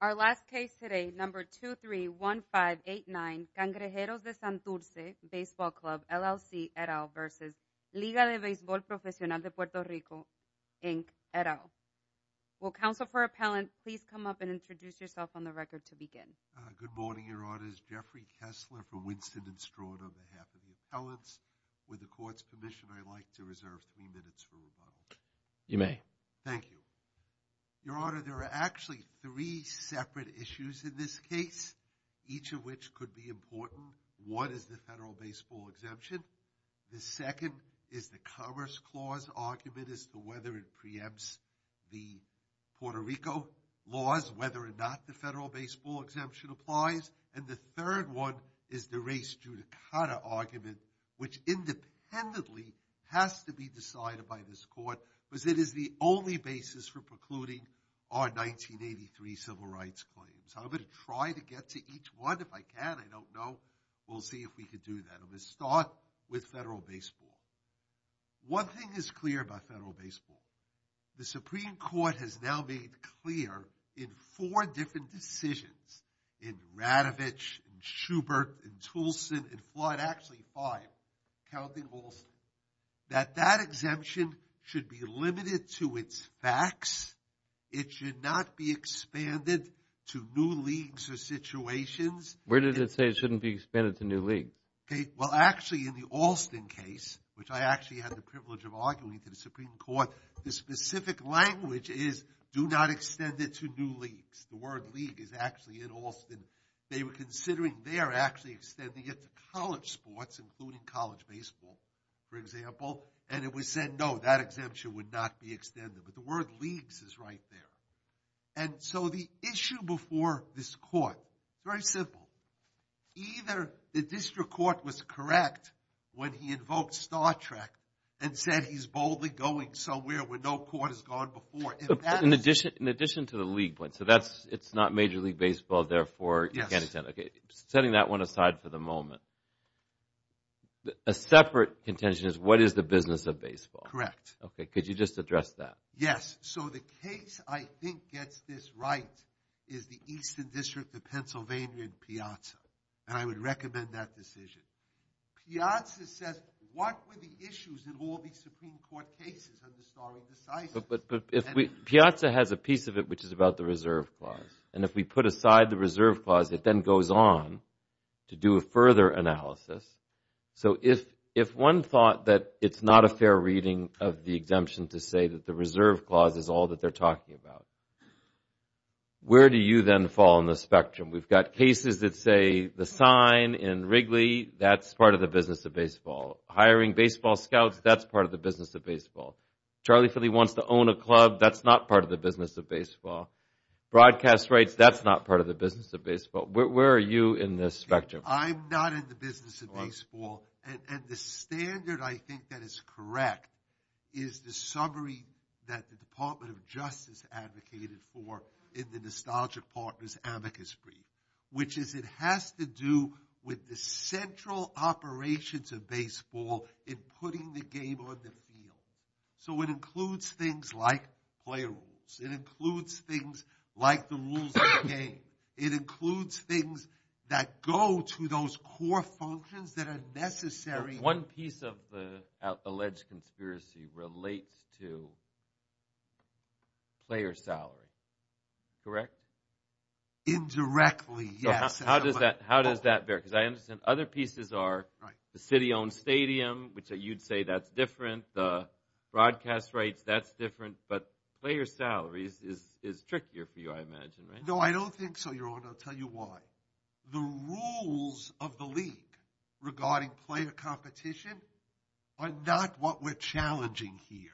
Our last case today, number 231589, Cangrejeros de Santurce Baseball Club, LLC, et al. versus Liga de Beisbol Profesional de Puerto Rico, Inc., et al. Will counsel for appellant please come up and introduce yourself on the record to begin? Good morning, Your Honor. This is Jeffrey Kessler from Winston and Stroud on behalf of the appellants. With the court's permission, I'd like to reserve three minutes for rebuttal. You may. Thank you. Your Honor, there are actually three separate issues in this case, each of which could be important. One is the federal baseball exemption. The second is the Commerce Clause argument as to whether it preempts the Puerto Rico laws, whether or not the federal baseball exemption applies. And the third one is the race judicata argument, which independently has to be decided by this Supreme Court because it is the only basis for precluding our 1983 civil rights claims. I'm going to try to get to each one. If I can, I don't know. We'll see if we can do that. I'm going to start with federal baseball. One thing is clear about federal baseball. The Supreme Court has now made clear in four different decisions, in Radovich and Schubert and Toulson and Floyd, actually five, counting Alston, that that exemption should be limited to its facts. It should not be expanded to new leagues or situations. Where did it say it shouldn't be expanded to new leagues? Okay. Well, actually, in the Alston case, which I actually had the privilege of arguing to the Supreme Court, the specific language is, do not extend it to new leagues. The word league is actually in Alston. They were considering, they are actually extending it to college sports, including college baseball, for example, and it was said, no, that exemption would not be extended. But the word leagues is right there. And so the issue before this court, very simple, either the district court was correct when he invoked Star Trek and said he's boldly going somewhere where no court has gone before. In addition to the league point, so that's, it's not Major League Baseball, therefore you can't extend it. Okay. Setting that one aside for the moment, a separate contention is what is the business of baseball? Correct. Okay. Could you just address that? Yes. So the case, I think, gets this right, is the Eastern District of Pennsylvania and Piazza. And I would recommend that decision. Piazza says, what were the issues in all these Supreme Court cases under Starling Decisive? But Piazza has a piece of it which is about the reserve clause. And if we put aside the reserve clause, it then goes on to do a further analysis. So if one thought that it's not a fair reading of the exemption to say that the reserve clause is all that they're talking about, where do you then fall on the spectrum? We've got cases that say the sign in Wrigley, that's part of the business of baseball. Hiring baseball scouts, that's part of the business of baseball. Charlie Philly wants to own a club, that's not part of the business of baseball. Broadcast rights, that's not part of the business of baseball. Where are you in this spectrum? I'm not in the business of baseball. And the standard I think that is correct is the summary that the Department of Justice advocated for in the Nostalgia Partners amicus brief, which is it has to do with the central operations of baseball in putting the game on the field. So it includes things like player rules. It includes things like the rules of the game. It includes things that go to those core functions that are necessary. One piece of the alleged conspiracy relates to player salary, correct? Indirectly, yes. How does that bear? Because I understand other pieces are the city-owned stadium, which you'd say that's different. The broadcast rights, that's different. But player salaries is trickier for you, I imagine, right? No, I don't think so, Your Honor. I'll tell you why. The rules of the league regarding player competition are not what we're challenging here.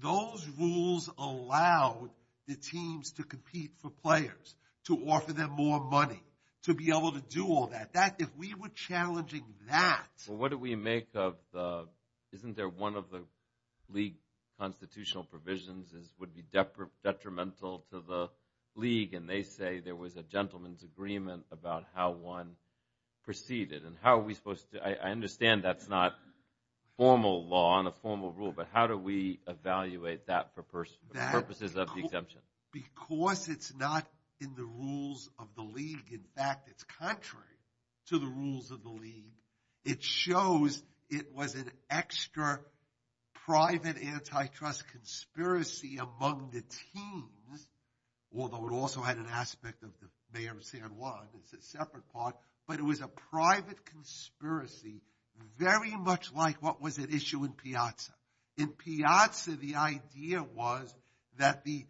Those rules allow the teams to compete for players, to offer them more money, to be able to do all that. If we were challenging that... Well, what do we make of the... Isn't there one of the league constitutional provisions would be detrimental to the league? And they say there was a gentleman's agreement about how one proceeded. And how are we supposed to... I understand that's not formal law and a formal rule, but how do we evaluate that for purposes of the exemption? Because it's not in the rules of the league. In fact, it's contrary to the rules of the league. It shows it was an extra private antitrust conspiracy among the teams, although it also had an aspect of the mayor of San Juan. It's a separate part. But it was a private conspiracy, very much like what was at issue in Piazza. In Piazza, the idea was that the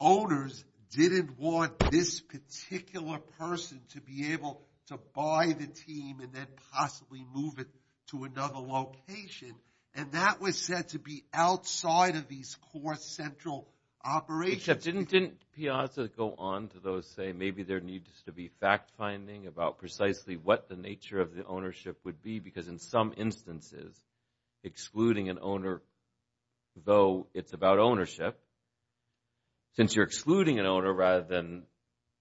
owners didn't want this particular person to be able to buy the team and then possibly move it to another location. And that was said to be outside of these core central operations. Didn't Piazza go on to say maybe there needs to be fact-finding about precisely what the nature of the ownership would be? Because in some instances, excluding an owner, though it's about ownership, since you're excluding an owner rather than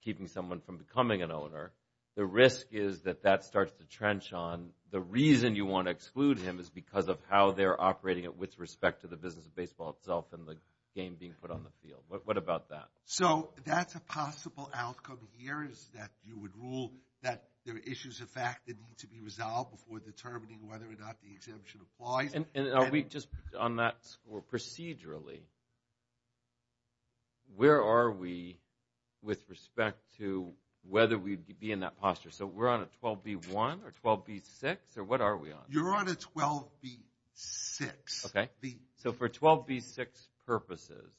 keeping someone from becoming an owner, the risk is that that starts to trench on. The reason you want to exclude him is because of how they're operating with respect to the business of baseball itself and the game being put on the field. What about that? So that's a possible outcome here is that you would rule that there are issues of fact that need to be resolved before determining whether or not the exemption applies. And are we just on that score procedurally? Where are we with respect to whether we'd be in that posture? So we're on a 12b-1 or 12b-6, or what are we on? You're on a 12b-6. So for 12b-6 purposes,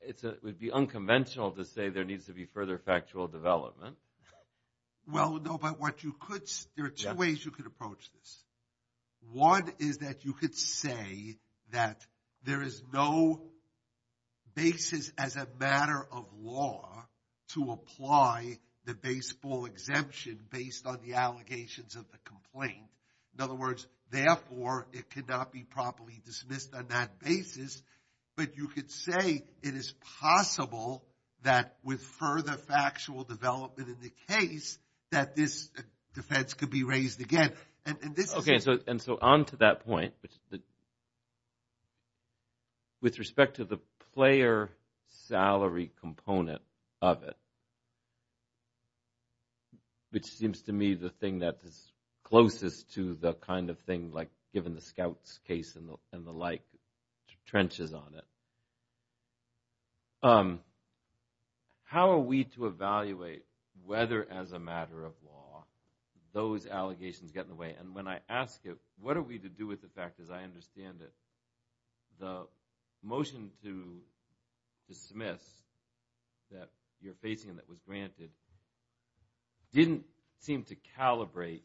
it would be unconventional to say there needs to be further factual development. Well, no, but there are two ways you could approach this. One is that you could say that there is no basis as a matter of law to apply the baseball exemption based on the allegations of the complaint. In other words, therefore, it cannot be properly dismissed on that basis. But you could say it is possible that with further factual development in the case that this defense could be raised again. Okay, and so on to that point, with respect to the player salary component of it, which seems to me the thing that is closest to the kind of thing like given the scouts case and the like trenches on it, how are we to evaluate whether as a matter of law those allegations get in the way? And when I ask it, what are we to do with the fact that I understand that the motion to dismiss that you're facing that was granted didn't seem to calibrate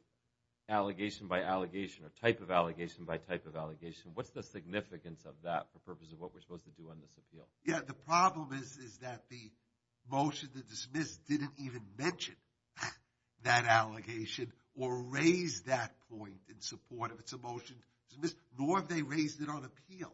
allegation by allegation or type of allegation by type of allegation. What's the significance of that for the purpose of what we're supposed to do on this appeal? Yeah, the problem is that the motion to dismiss didn't even mention that allegation or raise that point in support of its motion to dismiss nor have they raised it on appeal,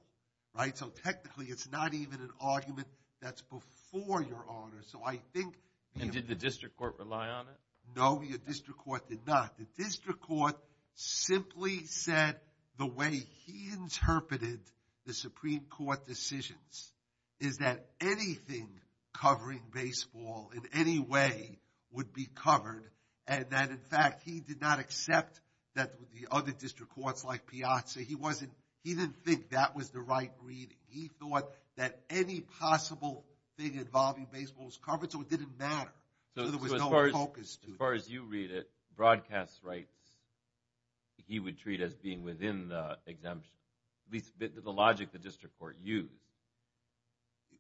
right? So technically it's not even an argument that's before your honor. So I think... And did the district court rely on it? No, your district court did not. The district court simply said the way he interpreted the Supreme Court decisions is that anything covering baseball in any way would be covered and that in fact he did not accept that the other district courts like Piazza, he didn't think that was the right reading. He thought that any possible thing involving baseball was covered so it didn't matter, so there was no focus to it. So as far as you read it, broadcast rights, he would treat as being within the exemption, at least the logic the district court used.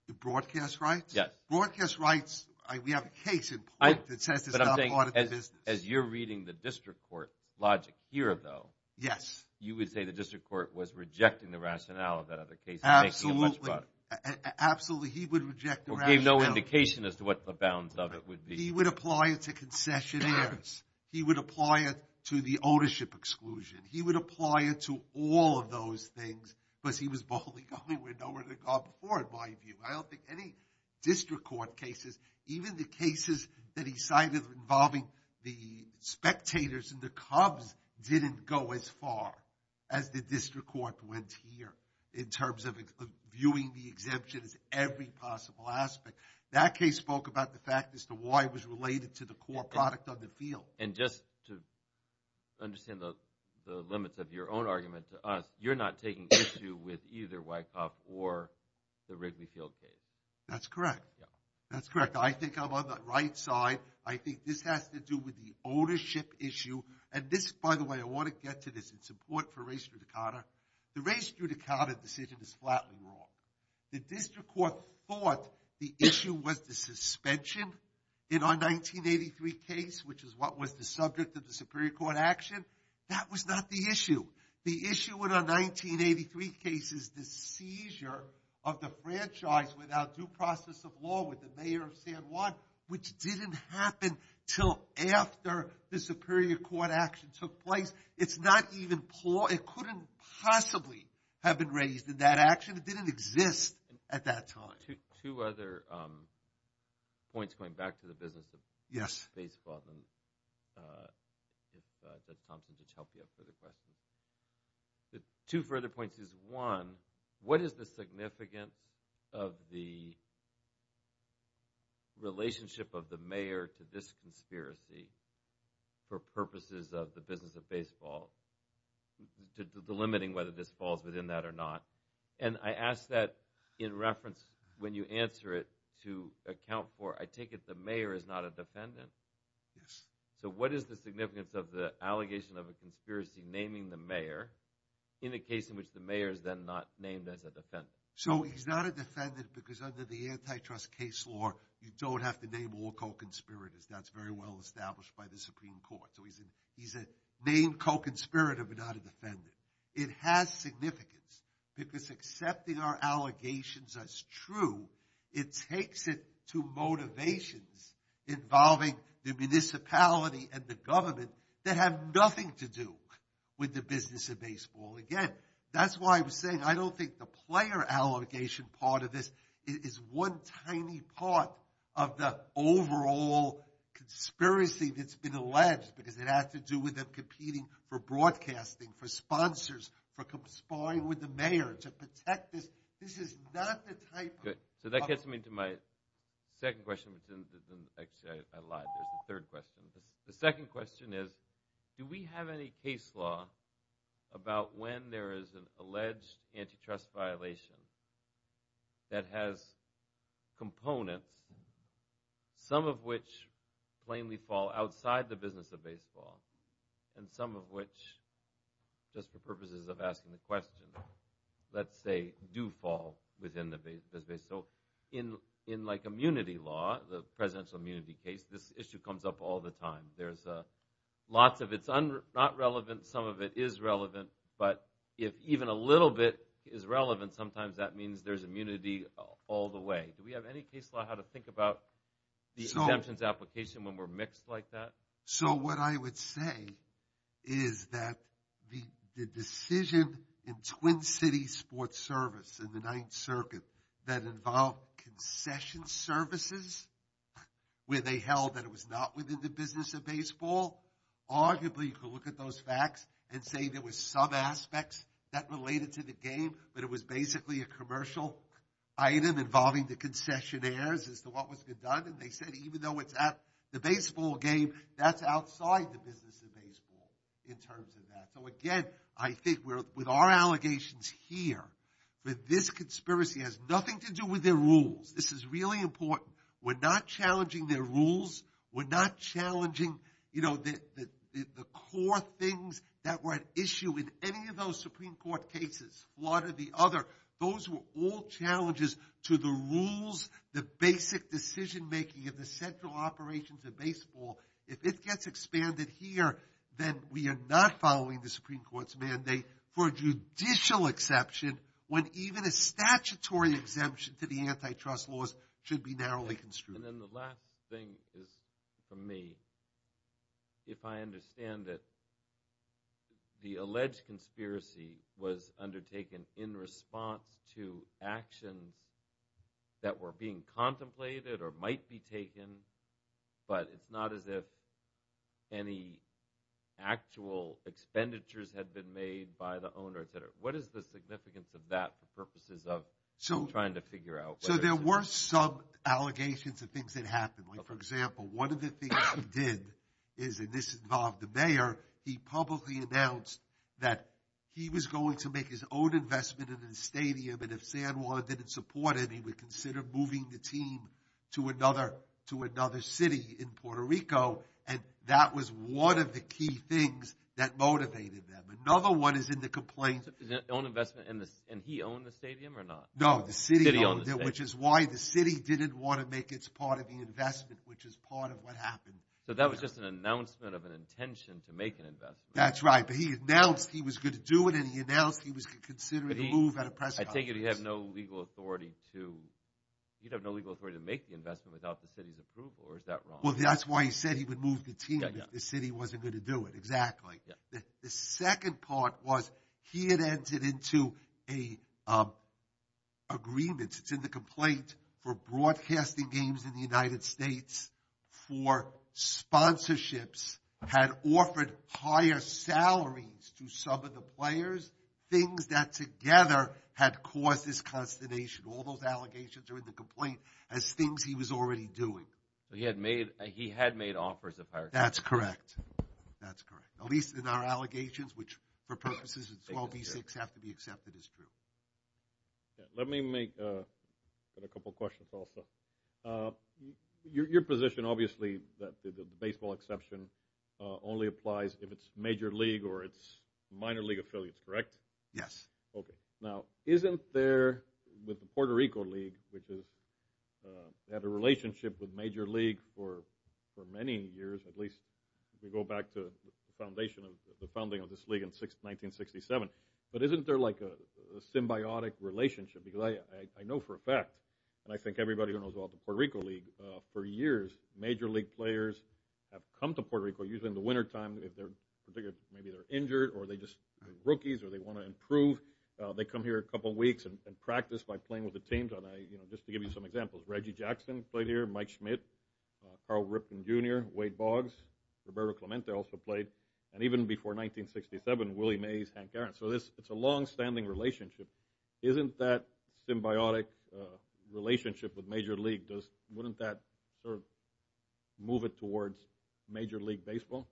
The broadcast rights? Yes. Broadcast rights, we have a case in point that says it's not part of the business. But I'm saying as you're reading the district court logic here though, you would say the district court was rejecting the rationale of that other case and making it much broader. Absolutely, he would reject the rationale. Or gave no indication as to what the bounds of it would be. He would apply it to concessionaires. He would apply it to the ownership exclusion. He would apply it to all of those things because he was boldly going where no one had gone before in my view. I don't think any district court cases, even the cases that he cited involving the spectators and the Cubs didn't go as far as the district court went here in terms of viewing the exemption as every possible aspect. That case spoke about the fact as to why it was related to the core product of the field. And just to understand the limits of your own argument to us, you're not taking issue with either Wyckoff or the Wrigley Field case. That's correct. That's correct. I think I'm on the right side. I think this has to do with the ownership issue. And this, by the way, I want to get to this. It's important for Ray Strudicata. The Ray Strudicata decision is flatly wrong. The district court thought the issue was the suspension in our 1983 case which is what was the subject of the Superior Court action. That was not the issue. The issue with our 1983 case is the seizure of the franchise without due process of law with the mayor of San Juan which didn't happen until after the Superior Court action took place. It's not even plausible. It couldn't possibly have been raised in that action. It didn't exist at that time. Two other points going back to the business of baseball. I don't know if Thompson can help you with further questions. Two further points. One, what is the significance of the relationship of the mayor to this conspiracy for purposes of the business of baseball? Delimiting whether this falls within that or not. And I ask that in reference when you answer it to account for I take it the mayor is not a defendant? Yes. So what is the significance of the allegation of a conspiracy naming the mayor in a case in which the mayor is then not named as a defendant? So he's not a defendant because under the antitrust case law you don't have to name all co-conspirators. That's very well established by the Supreme Court. So he's a named co-conspirator but not a defendant. It has significance because accepting our allegations as true it takes it to motivations involving the municipality and the government that have nothing to do with the business of baseball. Again, that's why I was saying I don't think the player allegation part of this is one tiny part of the overall conspiracy that's been alleged because it has to do with them competing for broadcasting, for sponsors, for conspiring with the mayor to protect this. This is not the type of... So that gets me to my second question. Actually, I lied. There's a third question. The second question is do we have any case law about when there is an alleged antitrust violation that has components, some of which plainly fall outside the business of baseball and some of which, just for purposes of asking the question, let's say, do fall within the business. So in like immunity law, the presidential immunity case, this issue comes up all the time. There's lots of it's not relevant. Some of it is relevant. But if even a little bit is relevant, sometimes that means there's immunity all the way. Do we have any case law how to think about the exemptions application when we're mixed like that? So what I would say is that the decision in Twin Cities Sports Service in the Ninth Circuit that involved concession services where they held that it was not within the business of baseball, arguably you could look at those facts and say there was some aspects that related to the game, but it was basically a commercial item involving the concessionaires as to what was being done. And they said even though it's at the baseball game, that's outside the business of baseball in terms of that. So again, I think with our allegations here, that this conspiracy has nothing to do with their rules. This is really important. We're not challenging their rules. We're not challenging the core things that were at issue in any of those Supreme Court cases, one or the other. Those were all challenges to the rules, the basic decision-making of the central operations of baseball. If it gets expanded here, then we are not following the Supreme Court's mandate for judicial exception when even a statutory exemption to the antitrust laws should be narrowly construed. And then the last thing is for me, if I understand it, the alleged conspiracy was undertaken in response to actions that were being contemplated or might be taken, but it's not as if any actual expenditures had been made by the owners. What is the significance of that for purposes of trying to figure out... So there were some allegations of things that happened. For example, one of the things he did, and this involved the mayor, he publicly announced that he was going to make his own investment in a stadium, and if San Juan didn't support it, he would consider moving the team to another city in Puerto Rico, and that was one of the key things that motivated them. Another one is in the complaint... His own investment, and he owned the stadium or not? No, the city owned it, which is why the city didn't want to make its part of the investment, which is part of what happened. So that was just an announcement of an intention to make an investment. That's right, but he announced he was going to do it, and he announced he was considering a move at a press conference. I take it he had no legal authority to... He'd have no legal authority to make the investment without the city's approval, or is that wrong? Well, that's why he said he would move the team if the city wasn't going to do it, exactly. The second part was, he had entered into an agreement. It's in the complaint for broadcasting games in the United States for sponsorships, had offered higher salaries to some of the players, things that together had caused this consternation. All those allegations are in the complaint as things he was already doing. He had made offers of higher salaries. That's correct. At least in our allegations, which for purposes of 12v6 have to be accepted as true. Let me make a couple of questions also. Your position, obviously, that the baseball exception only applies if it's major league or it's minor league affiliates, correct? Yes. Now, isn't there, with the Puerto Rico league, which had a relationship with major league for many years, at least if you go back to the founding of this league in 1967, but isn't there a symbiotic relationship? Because I know for a fact, and I think everybody who knows about the Puerto Rico league, for years, major league players have come to Puerto Rico, usually in the winter time, maybe they're injured or they're just rookies or they want to improve. They come here a couple of weeks and practice by playing with the teams. Just to give you some examples, Reggie Jackson played here, Mike Schmidt, Carl Ripken Jr., Wade Boggs, Roberto Clemente also played, and even before 1967, Willie Mays, Hank Aaron. So it's a long-standing relationship. Isn't that symbiotic relationship with major league? Wouldn't that move it towards major league baseball?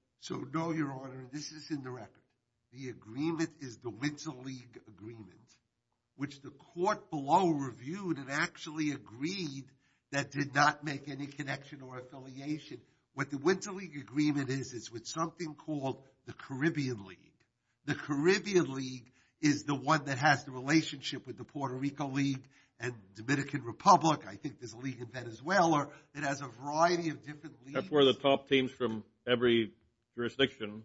No, Your Honor, this is in the record. The agreement is the winter league agreement, which the court below reviewed and actually agreed that did not make any connection or affiliation. What the winter league agreement is is with something called the Caribbean league. The Caribbean league is the one that has the relationship with the Puerto Rico league and Dominican Republic. I think there's a league in Venezuela that has a variety of different leagues. That's where the top teams from every jurisdiction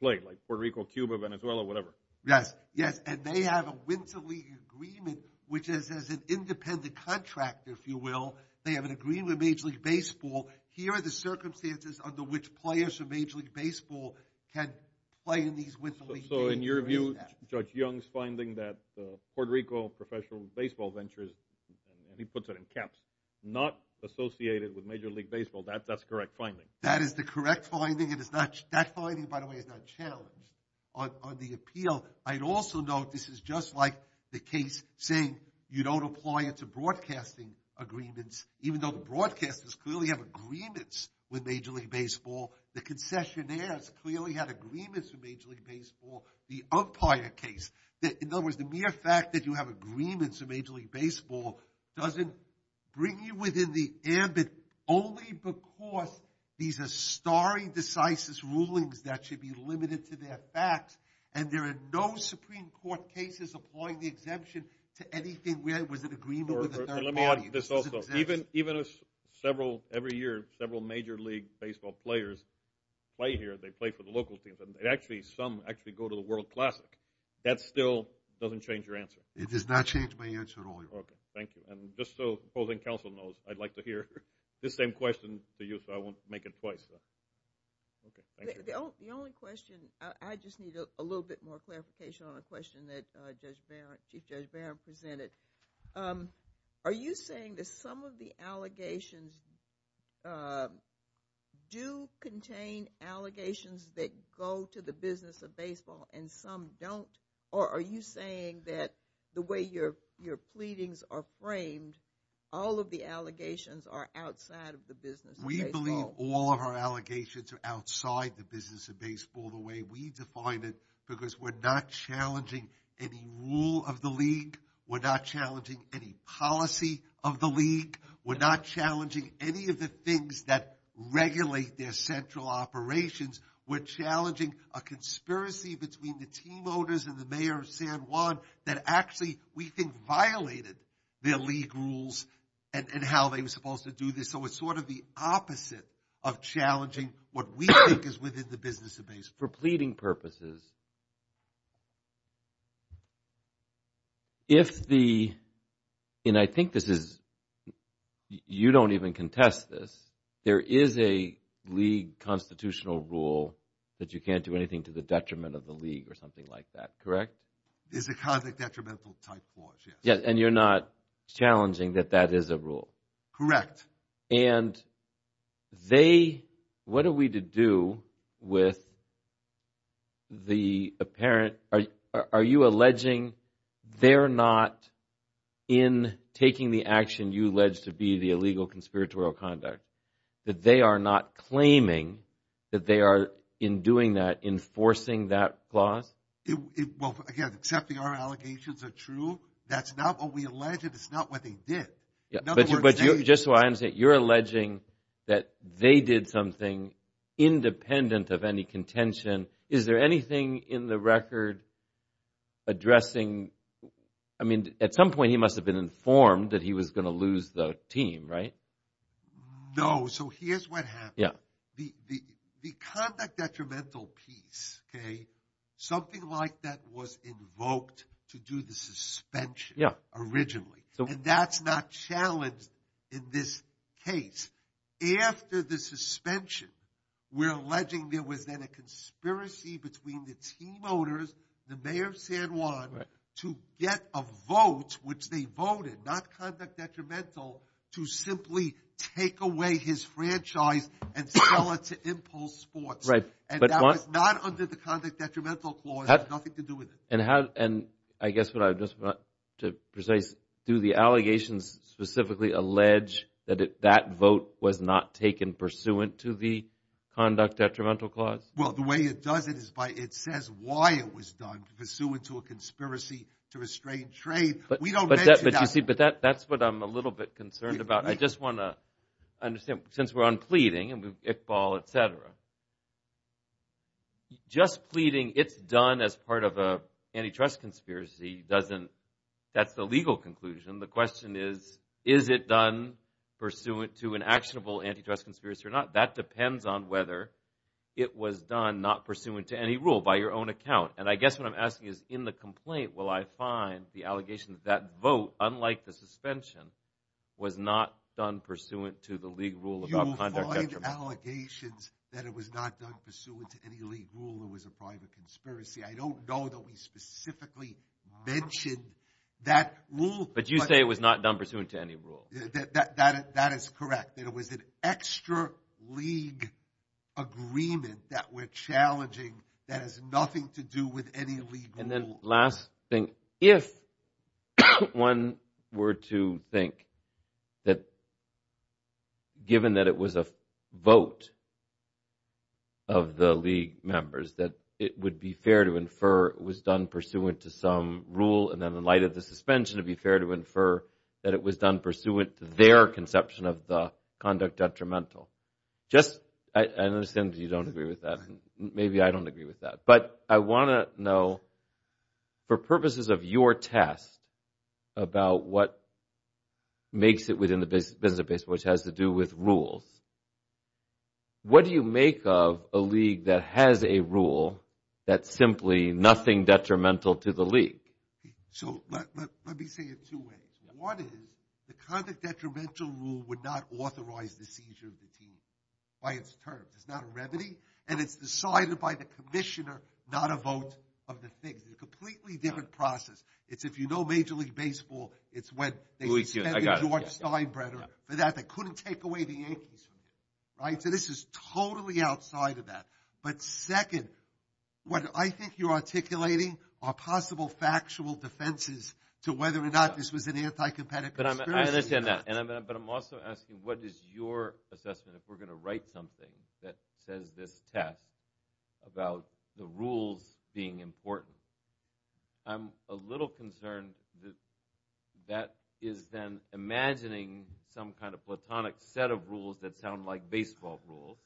play, like Puerto Rico, Cuba, Venezuela, whatever. Yes, and they have a winter league agreement which is an independent contract, if you will. They have an agreement with major league baseball. Here are the circumstances under which players from major league baseball can play in these winter league games. So in your view, Judge Young's finding that Puerto Rico professional baseball ventures, and he puts it in caps, not associated with major league baseball, that's the correct finding? That is the correct finding. That finding, by the way, is not challenged. On the appeal, I'd also note this is just like the case saying you don't apply it to broadcasting agreements, even though the broadcasters clearly have agreements with major league baseball. The concessionaires clearly have agreements with major league baseball. The umpire case, in other words, the mere fact that you have agreements with major league baseball doesn't bring you within the ambit only because these are starry, decisive rulings that should be limited to their facts, and there are no Supreme Court cases applying the exemption to anything where it was an agreement with a third party. Even if several, every year, several major league baseball players play here, they play for the World Classic, that still doesn't change your answer. It does not change my answer at all, Your Honor. Okay, thank you. Just so opposing counsel knows, I'd like to hear this same question to you, so I won't make it twice. Okay, thank you. The only question, I just need a little bit more clarification on a question that Judge Barron, Chief Judge Barron presented. Are you saying that some of the allegations do contain allegations that go to the business of baseball and some don't, or are you saying that the way your pleadings are framed, all of the allegations are outside of the business of baseball? We believe all of our allegations are outside the business of baseball the way we define it, because we're not challenging any rule of the league, we're not challenging any policy of the league, we're not challenging any of the things that regulate their central operations, we're challenging a conspiracy between the team owners and the Mayor of San Juan that actually, we think, violated their league rules and how they were supposed to do this, so it's sort of the opposite of challenging what we think is within the business of baseball. For pleading purposes, if the, and I think this is, you don't even contest this, there is a league constitutional rule that you can't do anything to the detriment of the league or something like that, correct? It's a kind of detrimental type clause, yes. And you're not challenging that that is a rule? Correct. And they, what are we to do with the apparent, are you alleging they're not in taking the action you allege to be the illegal conspiratorial conduct, that they are not claiming that they are, in doing that, enforcing that clause? Well, again, accepting our allegations are true, that's not what we alleged, it's not what they did. But just so I understand, you're alleging that they did something independent of any contention, is there anything in the record addressing, I mean, at some point he must have been informed that he was going to lose the team, right? No, so here's what happened. The conduct detrimental piece, something like that was invoked to do the suspension, originally. And that's not challenged in this case. After the suspension, we're alleging there was then a conspiracy between the team owners, the mayor of San Juan, to get a vote, which they voted, not conduct detrimental, to simply take away his franchise and sell it to Impulse Sports. And that was not under the conduct detrimental clause, nothing to do with it. And I guess what I just want to precise, do the allegations specifically allege that that vote was not taken pursuant to the conduct detrimental clause? Well, the way it does it is by, it says why it was done, pursuant to a conspiracy to restrain trade. But you see, that's what I'm a little bit concerned about. I just want to understand, since we're on pleading, Iqbal, etc. Just pleading it's done as part of a antitrust conspiracy doesn't, that's the legal conclusion. The question is, is it done pursuant to an actionable antitrust conspiracy or not? That depends on whether it was done not pursuant to any rule, by your own account. And I guess what I'm asking is, in the complaint, will I find the allegation that that vote, unlike the suspension, was not done pursuant to the legal rule about conduct detrimental? You will find allegations that it was not done pursuant to any legal rule, it was a private conspiracy. I don't know that we specifically mentioned that rule. But you say it was not done pursuant to any rule. That is correct. That it was an extra league agreement that we're challenging that has nothing to do with any legal rule. And then last thing, if one were to think that given that it was a vote of the league members, that it would be fair to infer it was done pursuant to some rule, and then in light of the suspension, it would be fair to infer that it was done pursuant to their conception of the conduct detrimental. Just, I understand you don't agree with that. Maybe I don't agree with that. But I want to know for purposes of your test about what makes it within the business of baseball, which has to do with what do you make of a league that has a rule that's simply nothing detrimental to the league? So, let me say it two ways. One is the conduct detrimental rule would not authorize the seizure of the team by its terms. It's not a remedy. And it's decided by the commissioner not a vote of the things. It's a completely different process. It's if you know Major League Baseball, it's when they suspended George Steinbrenner for that. They couldn't take away the Yankees from that. Right? So this is totally outside of that. But second, what I think you're articulating are possible factual defenses to whether or not this was an anti-competitive conspiracy. I understand that. But I'm also asking what is your assessment if we're going to write something that says this test about the rules being important? I'm a little concerned that is then imagining some kind of platonic set of rules that sound like baseball rules.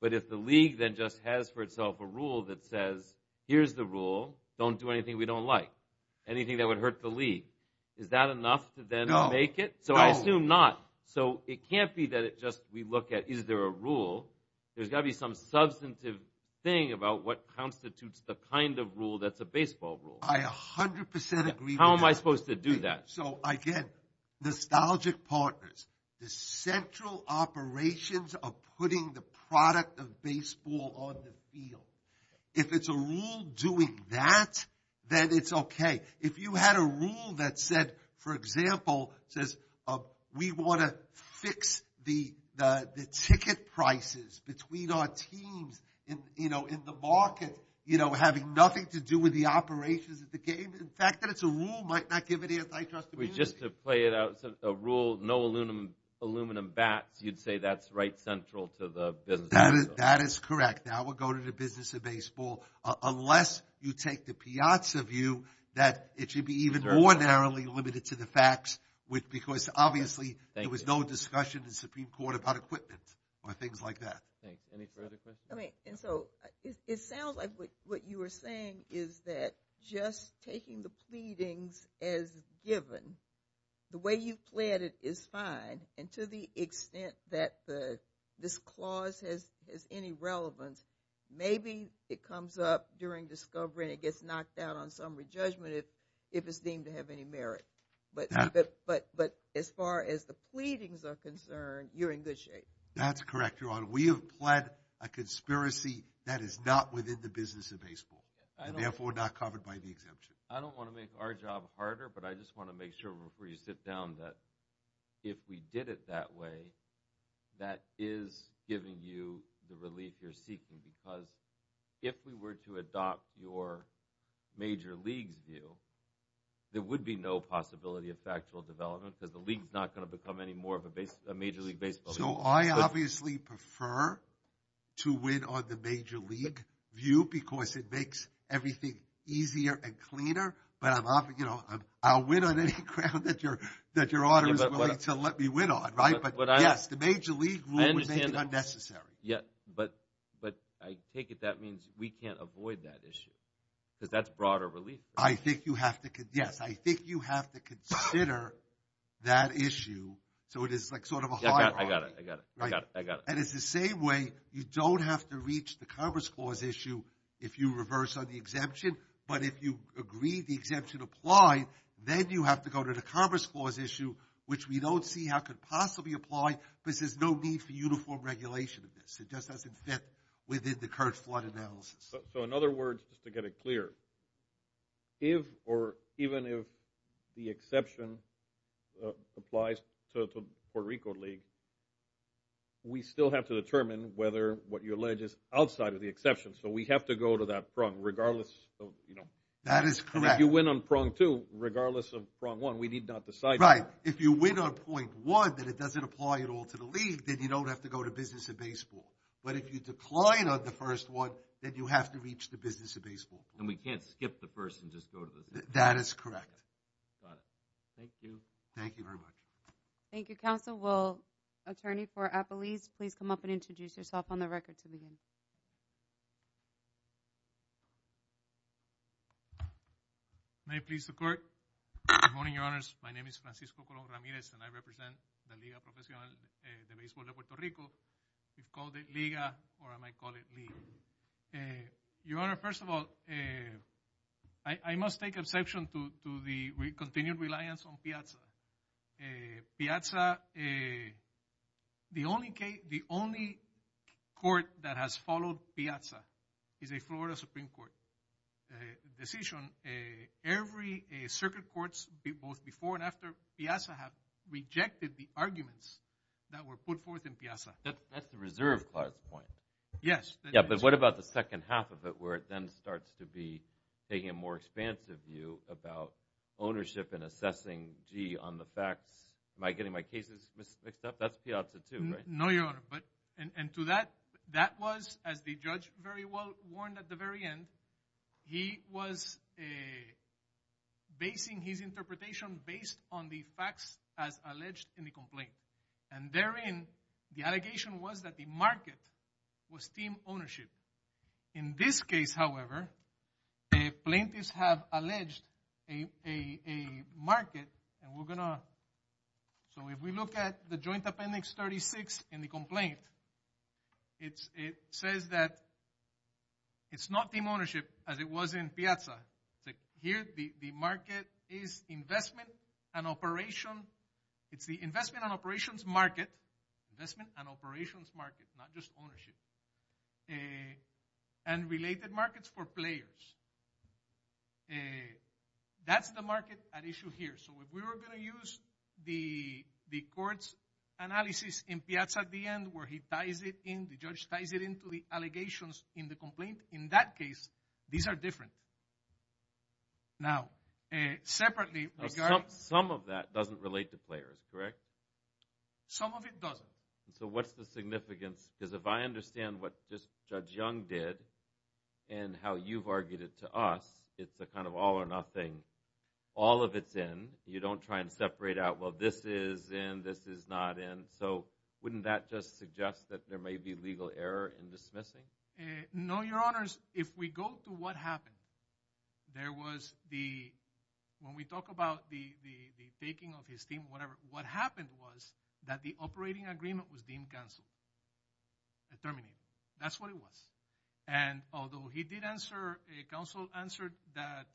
But if the league then just has for itself a rule that says here's the rule. Don't do anything we don't like. Anything that would hurt the league. Is that enough to then make it? So I assume not. So it can't be that we just look at is there a rule. There's got to be some substantive thing about what constitutes the kind of rule that's a baseball rule. I 100% agree with that. How am I supposed to do that? So again, nostalgic partners. The central operations of putting the product of baseball on the field. If it's a rule doing that, then it's okay. If you had a rule that said for example says we want to fix the ticket prices between our teams in the market having nothing to do with the operations of the game. In fact, that it's a rule might not give any antitrust immunity. Just to play it out. A rule, no aluminum bats, you'd say that's right central to the business of baseball. That is correct. That would go to the business of baseball. Unless you take the Piazza view that it should be even more narrowly limited to the facts because obviously there was no discussion in Supreme Court about equipment or things like that. Any further questions? It sounds like what you were saying is that just taking the pleadings as given, the way you've played it is fine and to the extent that this clause has any relevance, maybe it comes up during discovery and it gets knocked out on summary judgment if it's deemed to have any merit. But as far as the pleadings are concerned, you're in good shape. That's correct, Your Honor. We have pled a conspiracy that is not within the business of baseball and therefore not covered by the exemption. I don't want to make our job harder but I just want to make sure before you sit down that if we did it that way, that is giving you the relief you're seeking because if we were to adopt your major league's view, there would be no possibility of factual development because the league is not going to become any more of a major league baseball league. So I obviously prefer to win on the major league view because it makes everything easier and cleaner but I'll win on any ground that Your Honor is willing to let me win on, right? But yes, the major league rule was made unnecessary. Yes, but I take it that means we can't avoid that issue because that's broader relief. I think you have to consider that issue so it is sort of a hierarchy. I got it. And it's the same way you don't have to reach the Commerce Clause issue if you reverse on the exemption but if you agree the exemption applied, then you have to go to the Commerce Clause issue which we don't see how could possibly apply because there's no need for uniform regulation of this. It just doesn't fit within the current flood analysis. So in other words, just to get it clear, if or even if the exception applies to Puerto Rico league, we still have to determine whether what you allege is outside of the exception. So we have to go to that prong regardless of, you know. That is correct. If you win on prong two, regardless of prong one, we need not decide. Right. If you win on prong one, that it doesn't apply at all to the league, then you don't have to go to Business and Baseball. But if you decline on the first one, then you have to reach the Business and Baseball. And we can't skip the first and just go to the second. That is correct. Got it. Thank you. Thank you very much. Thank you, counsel. Will attorney for Appalese please come up and introduce yourself on the record to begin. May it please the court. Good morning, your honors. My name is Francisco Colón Ramirez and I represent the Liga Profesional de Baseball de Puerto Rico. We call it Liga or I might call it League. Your honor, first of all, I must take exception to the continued reliance on Piazza. the only court that has followed Piazza is a Florida Supreme Court decision. Every circuit courts, both before and after Piazza have rejected the arguments that were put forth in Piazza. That's the reserve clause point. Yes. But what about the second half of it where it then starts to be taking a more expansive view about ownership and assessing gee, on the facts. Am I getting my cases mixed up? That's Piazza too, right? No, your honor. That was, as the judge very well warned at the very end, he was basing his interpretation based on the facts as alleged in the complaint. And therein, the allegation was that the market was team ownership. In this case, however, plaintiffs have alleged a market and we're gonna so if we look at the joint appendix 36 in the complaint, it says that it's not team ownership as it was in Piazza. Here, the market is investment and operation it's the investment and operations market. Investment and operations market, not just ownership. And related markets for players. That's the market at issue here. So if we were gonna use the court's analysis in Piazza at the end where he ties it in the judge ties it into the allegations in the complaint, in that case these are different. Now, separately Some of that doesn't relate to players, correct? Some of it doesn't. So what's the significance? Because if I understand what Judge Young did and how you've argued it to us it's a kind of all or nothing all of it's in, you don't try and separate out, well this is in this is not in, so wouldn't that just suggest that there may be legal error in dismissing? No, your honors. If we go to what happened there was the when we talk about the taking of his team or whatever, what happened was that the operating agreement was deemed canceled. It terminated. That's what it was. And although he did answer, counsel answered that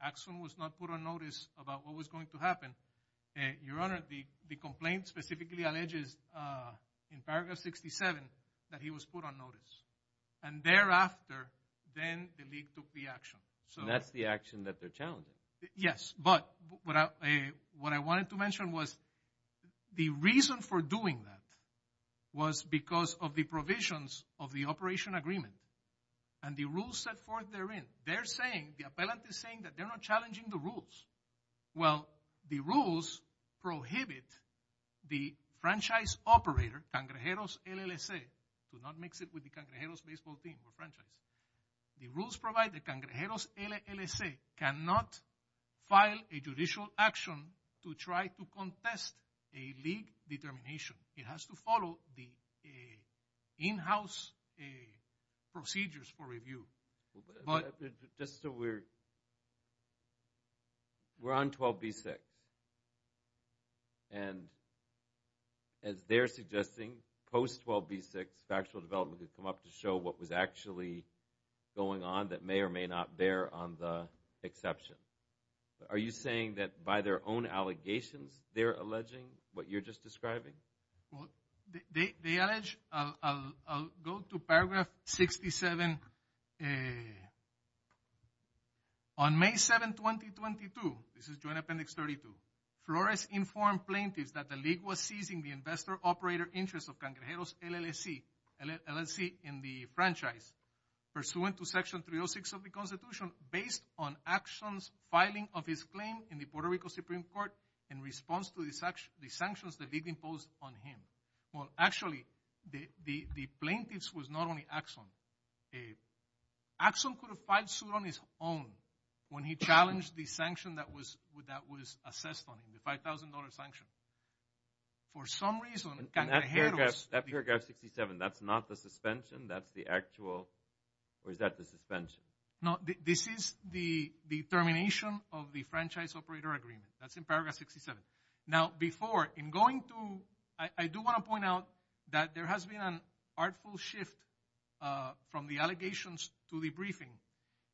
Axon was not put on notice about what was going to happen, your honor the complaint specifically alleges in paragraph 67 that he was put on notice and thereafter then the league took the action. And that's the action that they're challenging. Yes, but what I wanted to mention was the reason for doing that was because of the provisions of the operation agreement and the rules set forth therein they're saying, the appellant is saying that they're not challenging the rules. Well the rules prohibit the franchise operator, Cangrejeros LLC do not mix it with the Cangrejeros baseball team or franchise. The rules provide that Cangrejeros LLC cannot file a judicial action to try to contest a league determination. It has to follow the in-house procedures for review. Just so we're we're on 12b6 and as they're suggesting post 12b6 factual development has come up to show what was actually going on that may or may not bear on the exception. Are you saying that by their own allegations they're alleging what you're just describing? They allege I'll go to paragraph 67 and on May 7 2022, this is joint appendix 32 Flores informed plaintiffs that the league was seizing the investor operator interest of Cangrejeros LLC LLC in the franchise pursuant to section 306 of the constitution based on actions filing of his claim in the Puerto Rico Supreme Court in response to the sanctions the league imposed on him. Well actually the plaintiffs was not only Axon Axon could have filed suit on his own when he challenged the sanction that was assessed on him, the $5,000 sanction for some reason Cangrejeros... That paragraph 67, that's not the suspension, that's the actual or is that the suspension? No, this is the termination of the franchise operator agreement. That's in paragraph 67 Now before, in going to I do want to point out that there has been an artful shift from the allegations to the briefing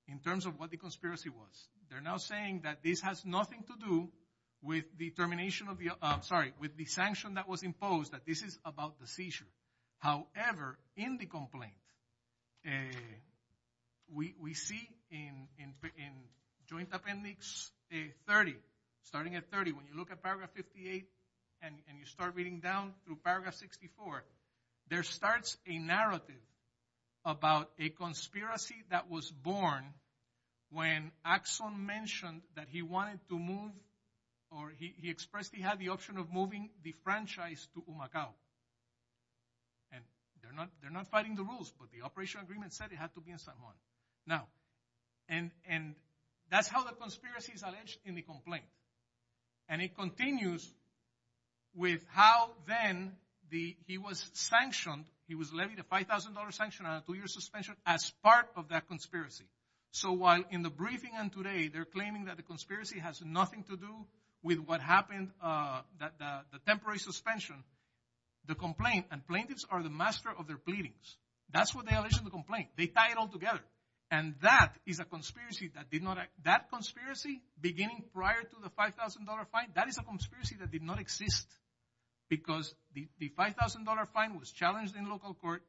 in terms of what the conspiracy was. They're now saying that this has nothing to do with the termination of the sorry, with the sanction that was imposed that this is about the seizure. However in the complaint we see in joint appendix 30 starting at 30 when you look at paragraph 58 and you start reading down through paragraph 64 there starts a narrative about a conspiracy that was born when Axon mentioned that he wanted to move or he expressed he had the option of moving the franchise to Umacao and they're not fighting the rules but the operation agreement said it had to be in San Juan. Now and that's how the conspiracy is alleged in the complaint and it continues with how then he was sanctioned, he was levied a $5,000 sanction on a two year suspension as part of that conspiracy. So while in the briefing and today they're claiming that the conspiracy has nothing to do with what happened the temporary suspension the complaint and plaintiffs are the master of their pleadings. That's what they allege in the complaint. They tie it all together and that is a conspiracy that did not that conspiracy beginning prior to the $5,000 fine, that is a conspiracy that did not exist because the $5,000 fine was challenged in local court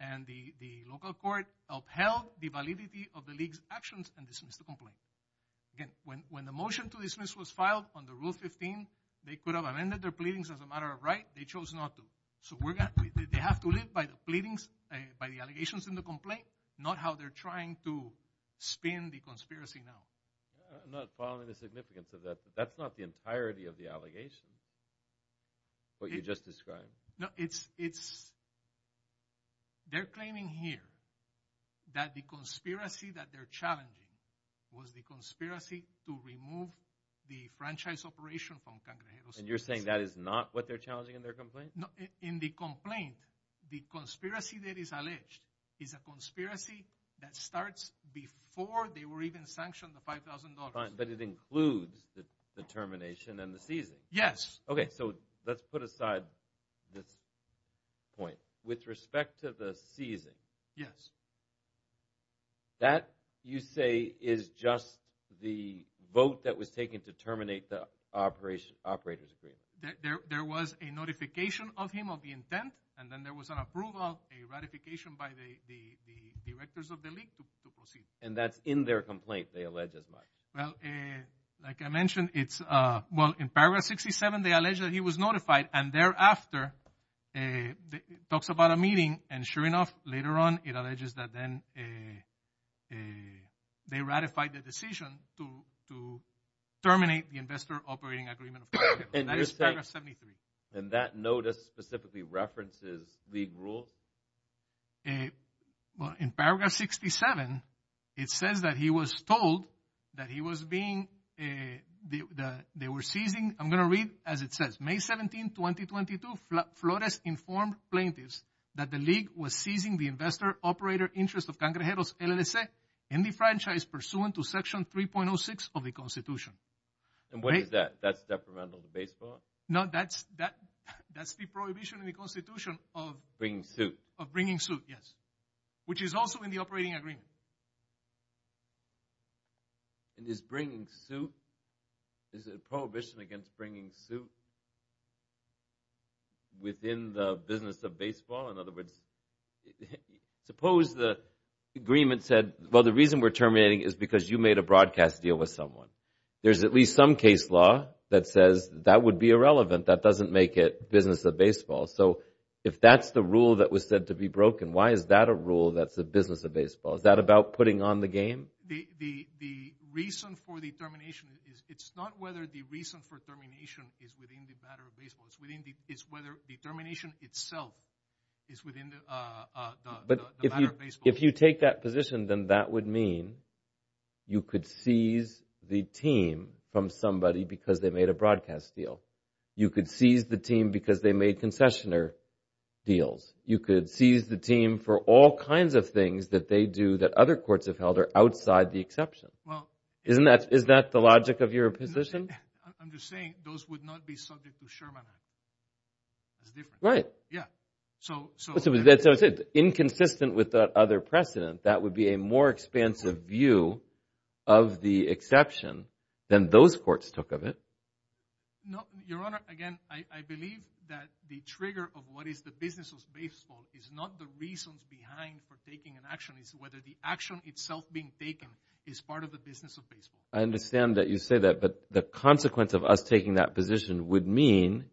and the local court upheld the validity of the league's actions and dismissed the complaint. Again when the motion to dismiss was filed under Rule 15, they could have amended their pleadings as a matter of right, they chose not to so they have to live by the allegations in the complaint, not how they're trying to spin the conspiracy now. I'm not following the significance of that but that's not the entirety of the allegation what you just described. No, it's they're claiming here that the conspiracy that they're challenging was the conspiracy to remove the franchise operation from Cangrejeros. And you're saying that is not what they're challenging in their complaint? No, in the complaint, the conspiracy that is alleged is a conspiracy that starts before they were even sanctioned the $5,000. But it includes the termination and the seizing? Yes. So let's put aside this point. With respect to the seizing that you say is just the vote that was taken to terminate the operators agreement? There was a notification of him of the intent and then there was an approval, a ratification by the directors of the league to proceed. And that's in their complaint they allege as much? Like I mentioned, it's well, in paragraph 67, they allege that he was notified and thereafter it talks about a meeting and sure enough, later on, it alleges that then they ratified the decision to terminate the investor operating agreement and that is paragraph 73. And that notice specifically references league rules? Well, in paragraph 67, it says that he was told that he was being they were seizing, I'm going to read as it says, May 17, 2022 Flores informed plaintiffs that the league was seizing the investor operator interest of Cangrejeros LLC in the franchise pursuant to section 3.06 of the constitution. And what is that? That's detrimental to baseball? No, that's the prohibition in the constitution of bringing suit, yes. Which is also in the operating agreement. And is bringing suit is it a prohibition against bringing suit within the business of baseball? In other words, suppose the agreement said, well, the reason we're terminating is because you made a broadcast deal with someone. There's at least some case law that says that would be irrelevant. That doesn't make it business of baseball. So, if that's the rule that was said to be broken, why is that a rule that's the business of baseball? Is that about putting on the game? The reason for the termination it's not whether the reason for termination is within the matter of baseball. It's whether the termination itself is within the matter of baseball. If you take that position, then that would mean you could seize the team from somebody because they made a broadcast deal. You could seize the team because they made concessioner deals. You could seize the team for all kinds of things that they do that other courts have held are outside the exception. Isn't that the logic of your position? I'm just saying those would not be subject to Sherman. Right. Yeah. Inconsistent with that other precedent that would be a more expansive view of the exception than those courts took of it. No. Your Honor, again, I believe that the trigger of what is the business of baseball is not the reasons behind for taking an action. It's whether the action itself being taken is part of the business of baseball. I understand that you say that, but the consequence of us taking that position would mean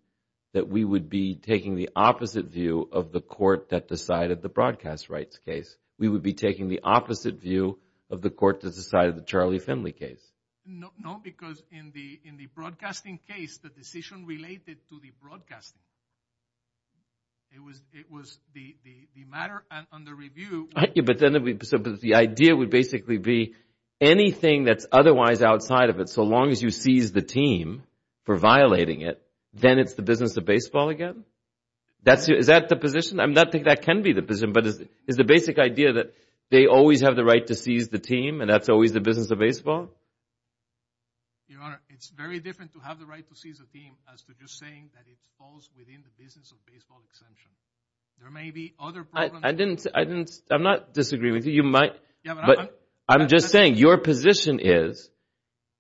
that we would be taking the opposite view of the court that decided the broadcast rights case. We would be taking the opposite view of the court that decided the Charlie Finley case. No, because in the broadcasting case, the decision related to the broadcasting. It was the matter under review. But the idea would basically be anything that's otherwise outside of it, so long as you seize the team for violating it, then it's the business of baseball again? Is that the position? I'm not saying that can be the position, but is the basic idea that they always have the right to seize the team and that's always the business of baseball? Your Honor, it's very different to have the right to seize a team as to just saying that it falls within the business of baseball exemption. There may be other problems. I'm not disagreeing with you. I'm just saying, your position is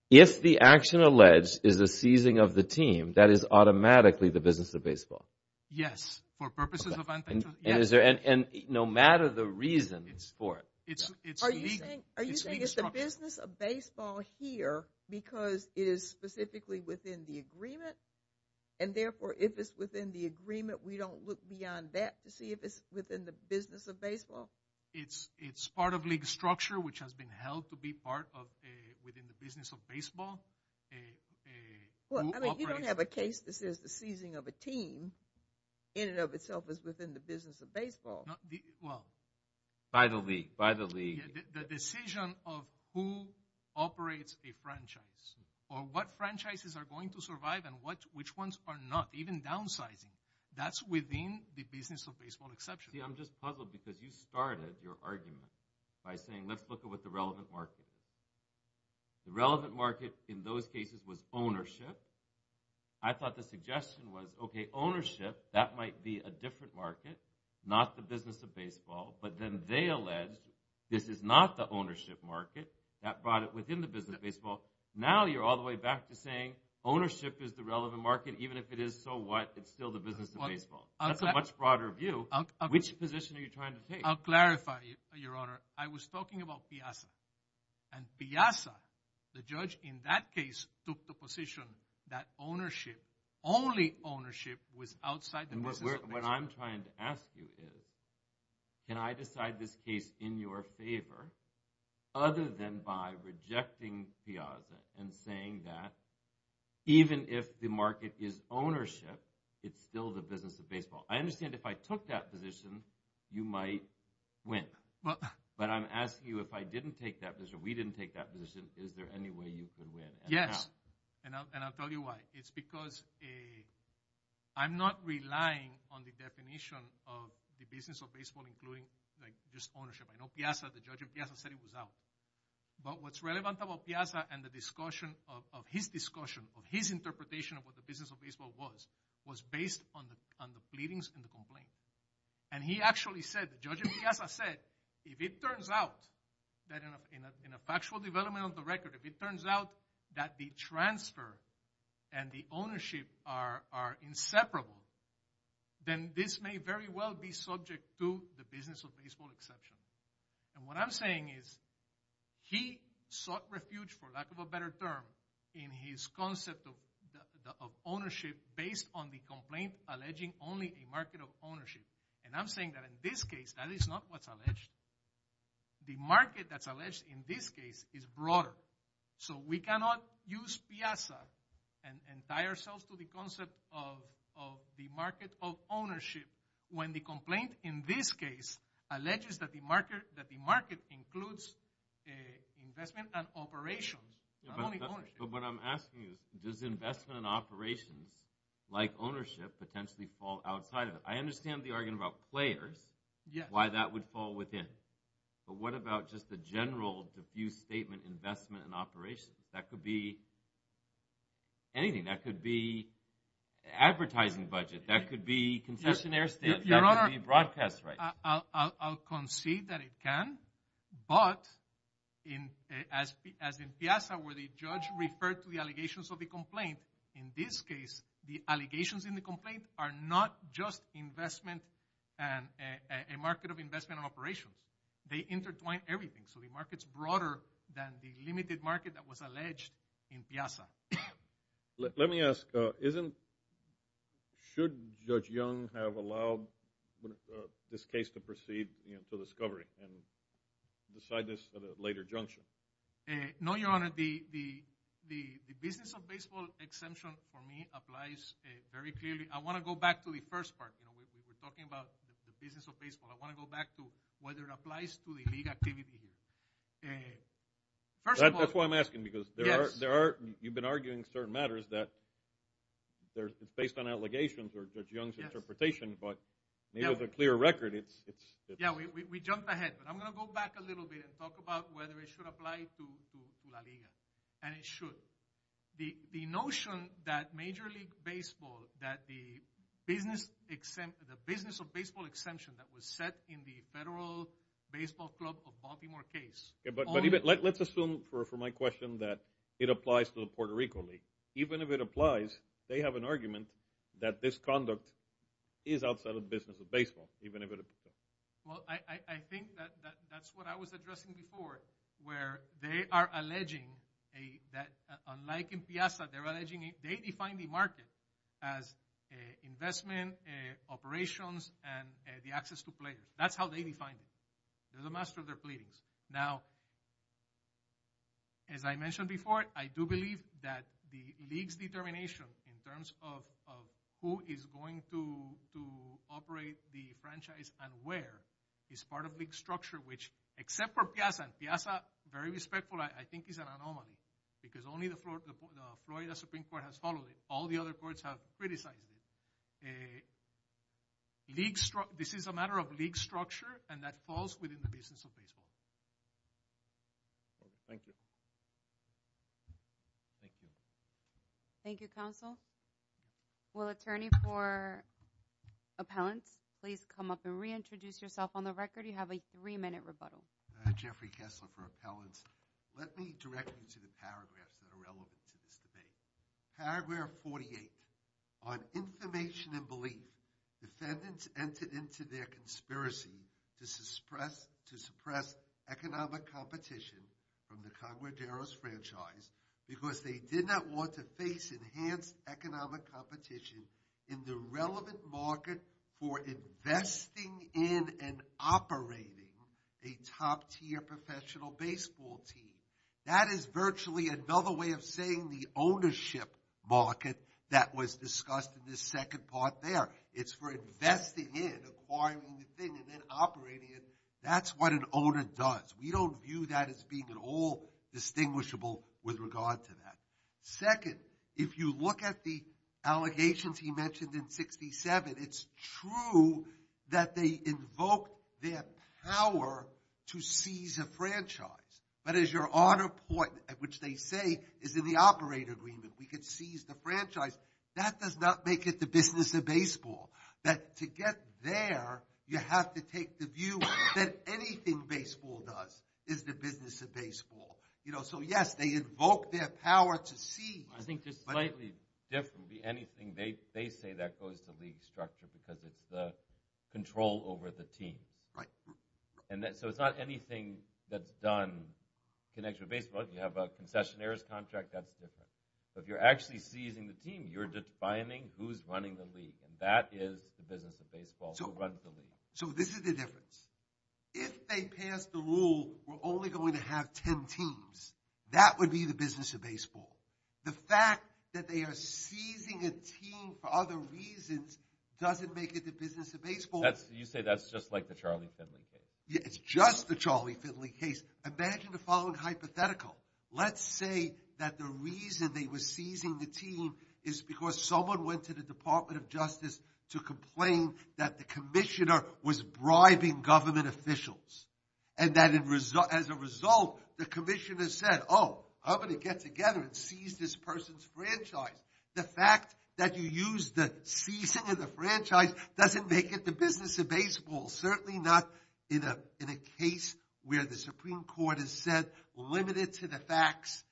if the action alleged is the seizing of the team, that is automatically the business of baseball. Yes, for purposes of and no matter the reason for it. Are you saying it's the business of baseball here because it is specifically within the agreement and therefore if it's within the agreement, we don't look beyond that to see if it's within the business of baseball? It's part of league structure which has been held to be part of the business of baseball. You don't have a case that says the seizing of a team in and of itself is within the business of baseball. By the league. The decision of who operates the franchise or what franchises are going to survive and which ones are not, even downsizing, that's within the business of baseball exception. I'm just puzzled because you started your argument by saying let's look at what the relevant market is. The relevant market in those cases was ownership. I thought the suggestion was, okay, ownership that might be a different market. Not the business of baseball. But then they alleged this is not the ownership market. That brought it within the business of baseball. Now you're all the way back to saying ownership is the relevant market. Even if it is, so what? It's still the business of baseball. That's a much broader view. Which position are you trying to take? I'll clarify, Your Honor. I was talking about Piazza. And Piazza, the judge in that case took the position that ownership, only ownership was outside the business of baseball. What I'm trying to ask you is, can I decide this case in your favor other than by rejecting Piazza and saying that even if the market is ownership it's still the business of baseball. I understand if I took that position you might win. But I'm asking you if I didn't take that position, we didn't take that position, is there any way you could win? Yes. And I'll tell you why. It's because I'm not relying on the definition of the business of baseball including just ownership. I know Piazza, the judge of Piazza said it was out. But what's relevant about Piazza and the discussion of his discussion, his interpretation of what the business of baseball was, was based on the pleadings and the complaints. And he actually said, the judge of Piazza said if it turns out that in a factual development of the transfer and the ownership are inseparable then this may very well be subject to the business of baseball exception. And what I'm saying is he sought refuge for lack of a better term in his concept of ownership based on the complaint alleging only a market of ownership. And I'm saying that in this case that is not what's alleged. The market that's alleged in this case is broader. So we cannot use Piazza and tie ourselves to the concept of the market of ownership when the complaint in this case alleges that the market includes investment and operations. But what I'm asking is does investment and operations like ownership potentially fall outside of it? I understand the argument about players why that would fall within. But what about just the general defuse statement investment and operations? That could be anything. That could be advertising budget. That could be concessionaire statement. That could be broadcast. I'll concede that it can but as in Piazza where the judge referred to the allegations of the complaint in this case the allegations in the complaint are not just investment and a market of investment and operations. They intertwine everything. So the market's broader than the limited market that was alleged in Piazza. Let me ask isn't should Judge Young have allowed this case to proceed for discovery and decide this at a later junction? No, Your Honor. The business of baseball exemption for me applies very clearly. I want to go back to the first part. We're talking about the business of baseball. I want to go back to whether it applies to the league activity. First of all That's why I'm asking because there are you've been arguing certain matters that it's based on allegations or Judge Young's interpretation but with a clear record it's Yeah, we jumped ahead but I'm going to go back a little bit and talk about whether it should apply to La Liga. And it should. The notion that Major League Baseball that the business the business of baseball exemption that was set in the Federal Baseball Club of Baltimore case Let's assume for my question that it applies to the Puerto Rico League. Even if it applies they have an argument that this conduct is outside of the business of baseball. Well, I think that's what I was addressing before where they are alleging that unlike in Piazza they're alleging they define the market as investment operations and the access to players. That's how they define it. They're the master of their pleadings. Now as I mentioned before I do believe that the league's determination in terms of who is going to operate the franchise and where is part of league structure which except for Piazza. Piazza very respectful I think is an anomaly because only the Florida Supreme Court has followed it. All the other courts have criticized it. This is a matter of league structure and that falls within the business of baseball. Thank you. Thank you. Thank you counsel. Will attorney for appellants please come up and reintroduce yourself on the record. You have a three minute rebuttal. Jeffrey Kessler for appellants. Let me direct you to the paragraphs that are relevant to this debate. Paragraph 48 on information and belief defendants entered into their conspiracy to suppress economic competition from the franchise because they did not want to face enhanced economic competition in the relevant market for investing in and operating a top tier professional baseball team. That is virtually another way of saying the ownership market that was discussed in the second part there. It's for investing in, acquiring the thing and then operating it. That's what an owner does. We don't view that as being at all distinguishable with regard to that. Second, if you look at the allegations he mentioned in 67, it's true that they invoke their power to seize a franchise. But as your honor point, which they say is in the operator agreement, we could seize the franchise. That does not make it the business of baseball. To get there, you have to take the view that anything baseball does is the business of baseball. So yes, they invoke their power to seize. I think just slightly differently, they say that goes to league structure because it's the control over the team. So it's not anything that's done connected to baseball. You have a concessionaire's contract, that's different. But if you're actually seizing the team, you're defining who's running the league. That is the business of baseball. So this is the difference. If they pass the rule, we're only going to have 10 teams. That would be the business of baseball. The fact that they are seizing a team for other reasons doesn't make it the business of baseball. You say that's just like the Charlie Finley case. Yeah, it's just the Charlie Finley case. Imagine the following hypothetical. Let's say that the reason they were seizing the team is because someone went to the Department of Justice to complain that the Commissioner was bribing government officials and that as a result the Commissioner said, oh, I'm going to get together and seize this person's franchise. The fact that you use the seizing of the business of baseball, certainly not in a case where the Supreme Court has said, limit it to the facts.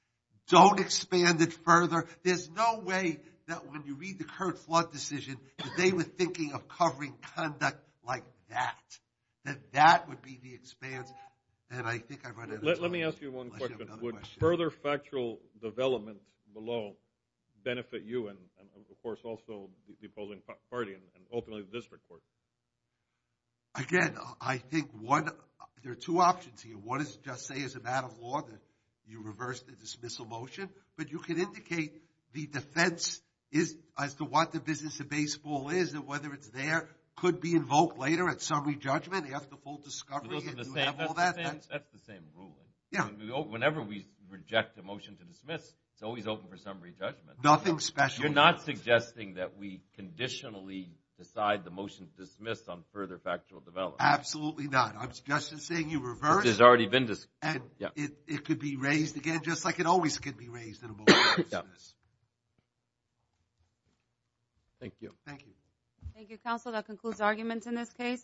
Don't expand it further. There's no way that when you read the current flood decision that they were thinking of covering conduct like that. That that would be the expanse. Let me ask you one question. Would further factual development below benefit you and of course also the opposing party and openly the district court? Again, I think there are two options here. One is just say as a matter of law that you reverse the dismissal motion, but you can indicate the defense as to what the business of baseball is and whether it's there could be invoked later at summary judgment after full discovery. That's the same rule. Whenever we reject a motion to dismiss, it's always open for summary judgment. Nothing special. You're not suggesting that we conditionally decide the motion to dismiss on further factual development. Absolutely not. I'm just saying you reverse. It could be raised again just like it always could be raised in a motion to dismiss. Thank you. Thank you. Thank you, counsel. That concludes arguments in this case.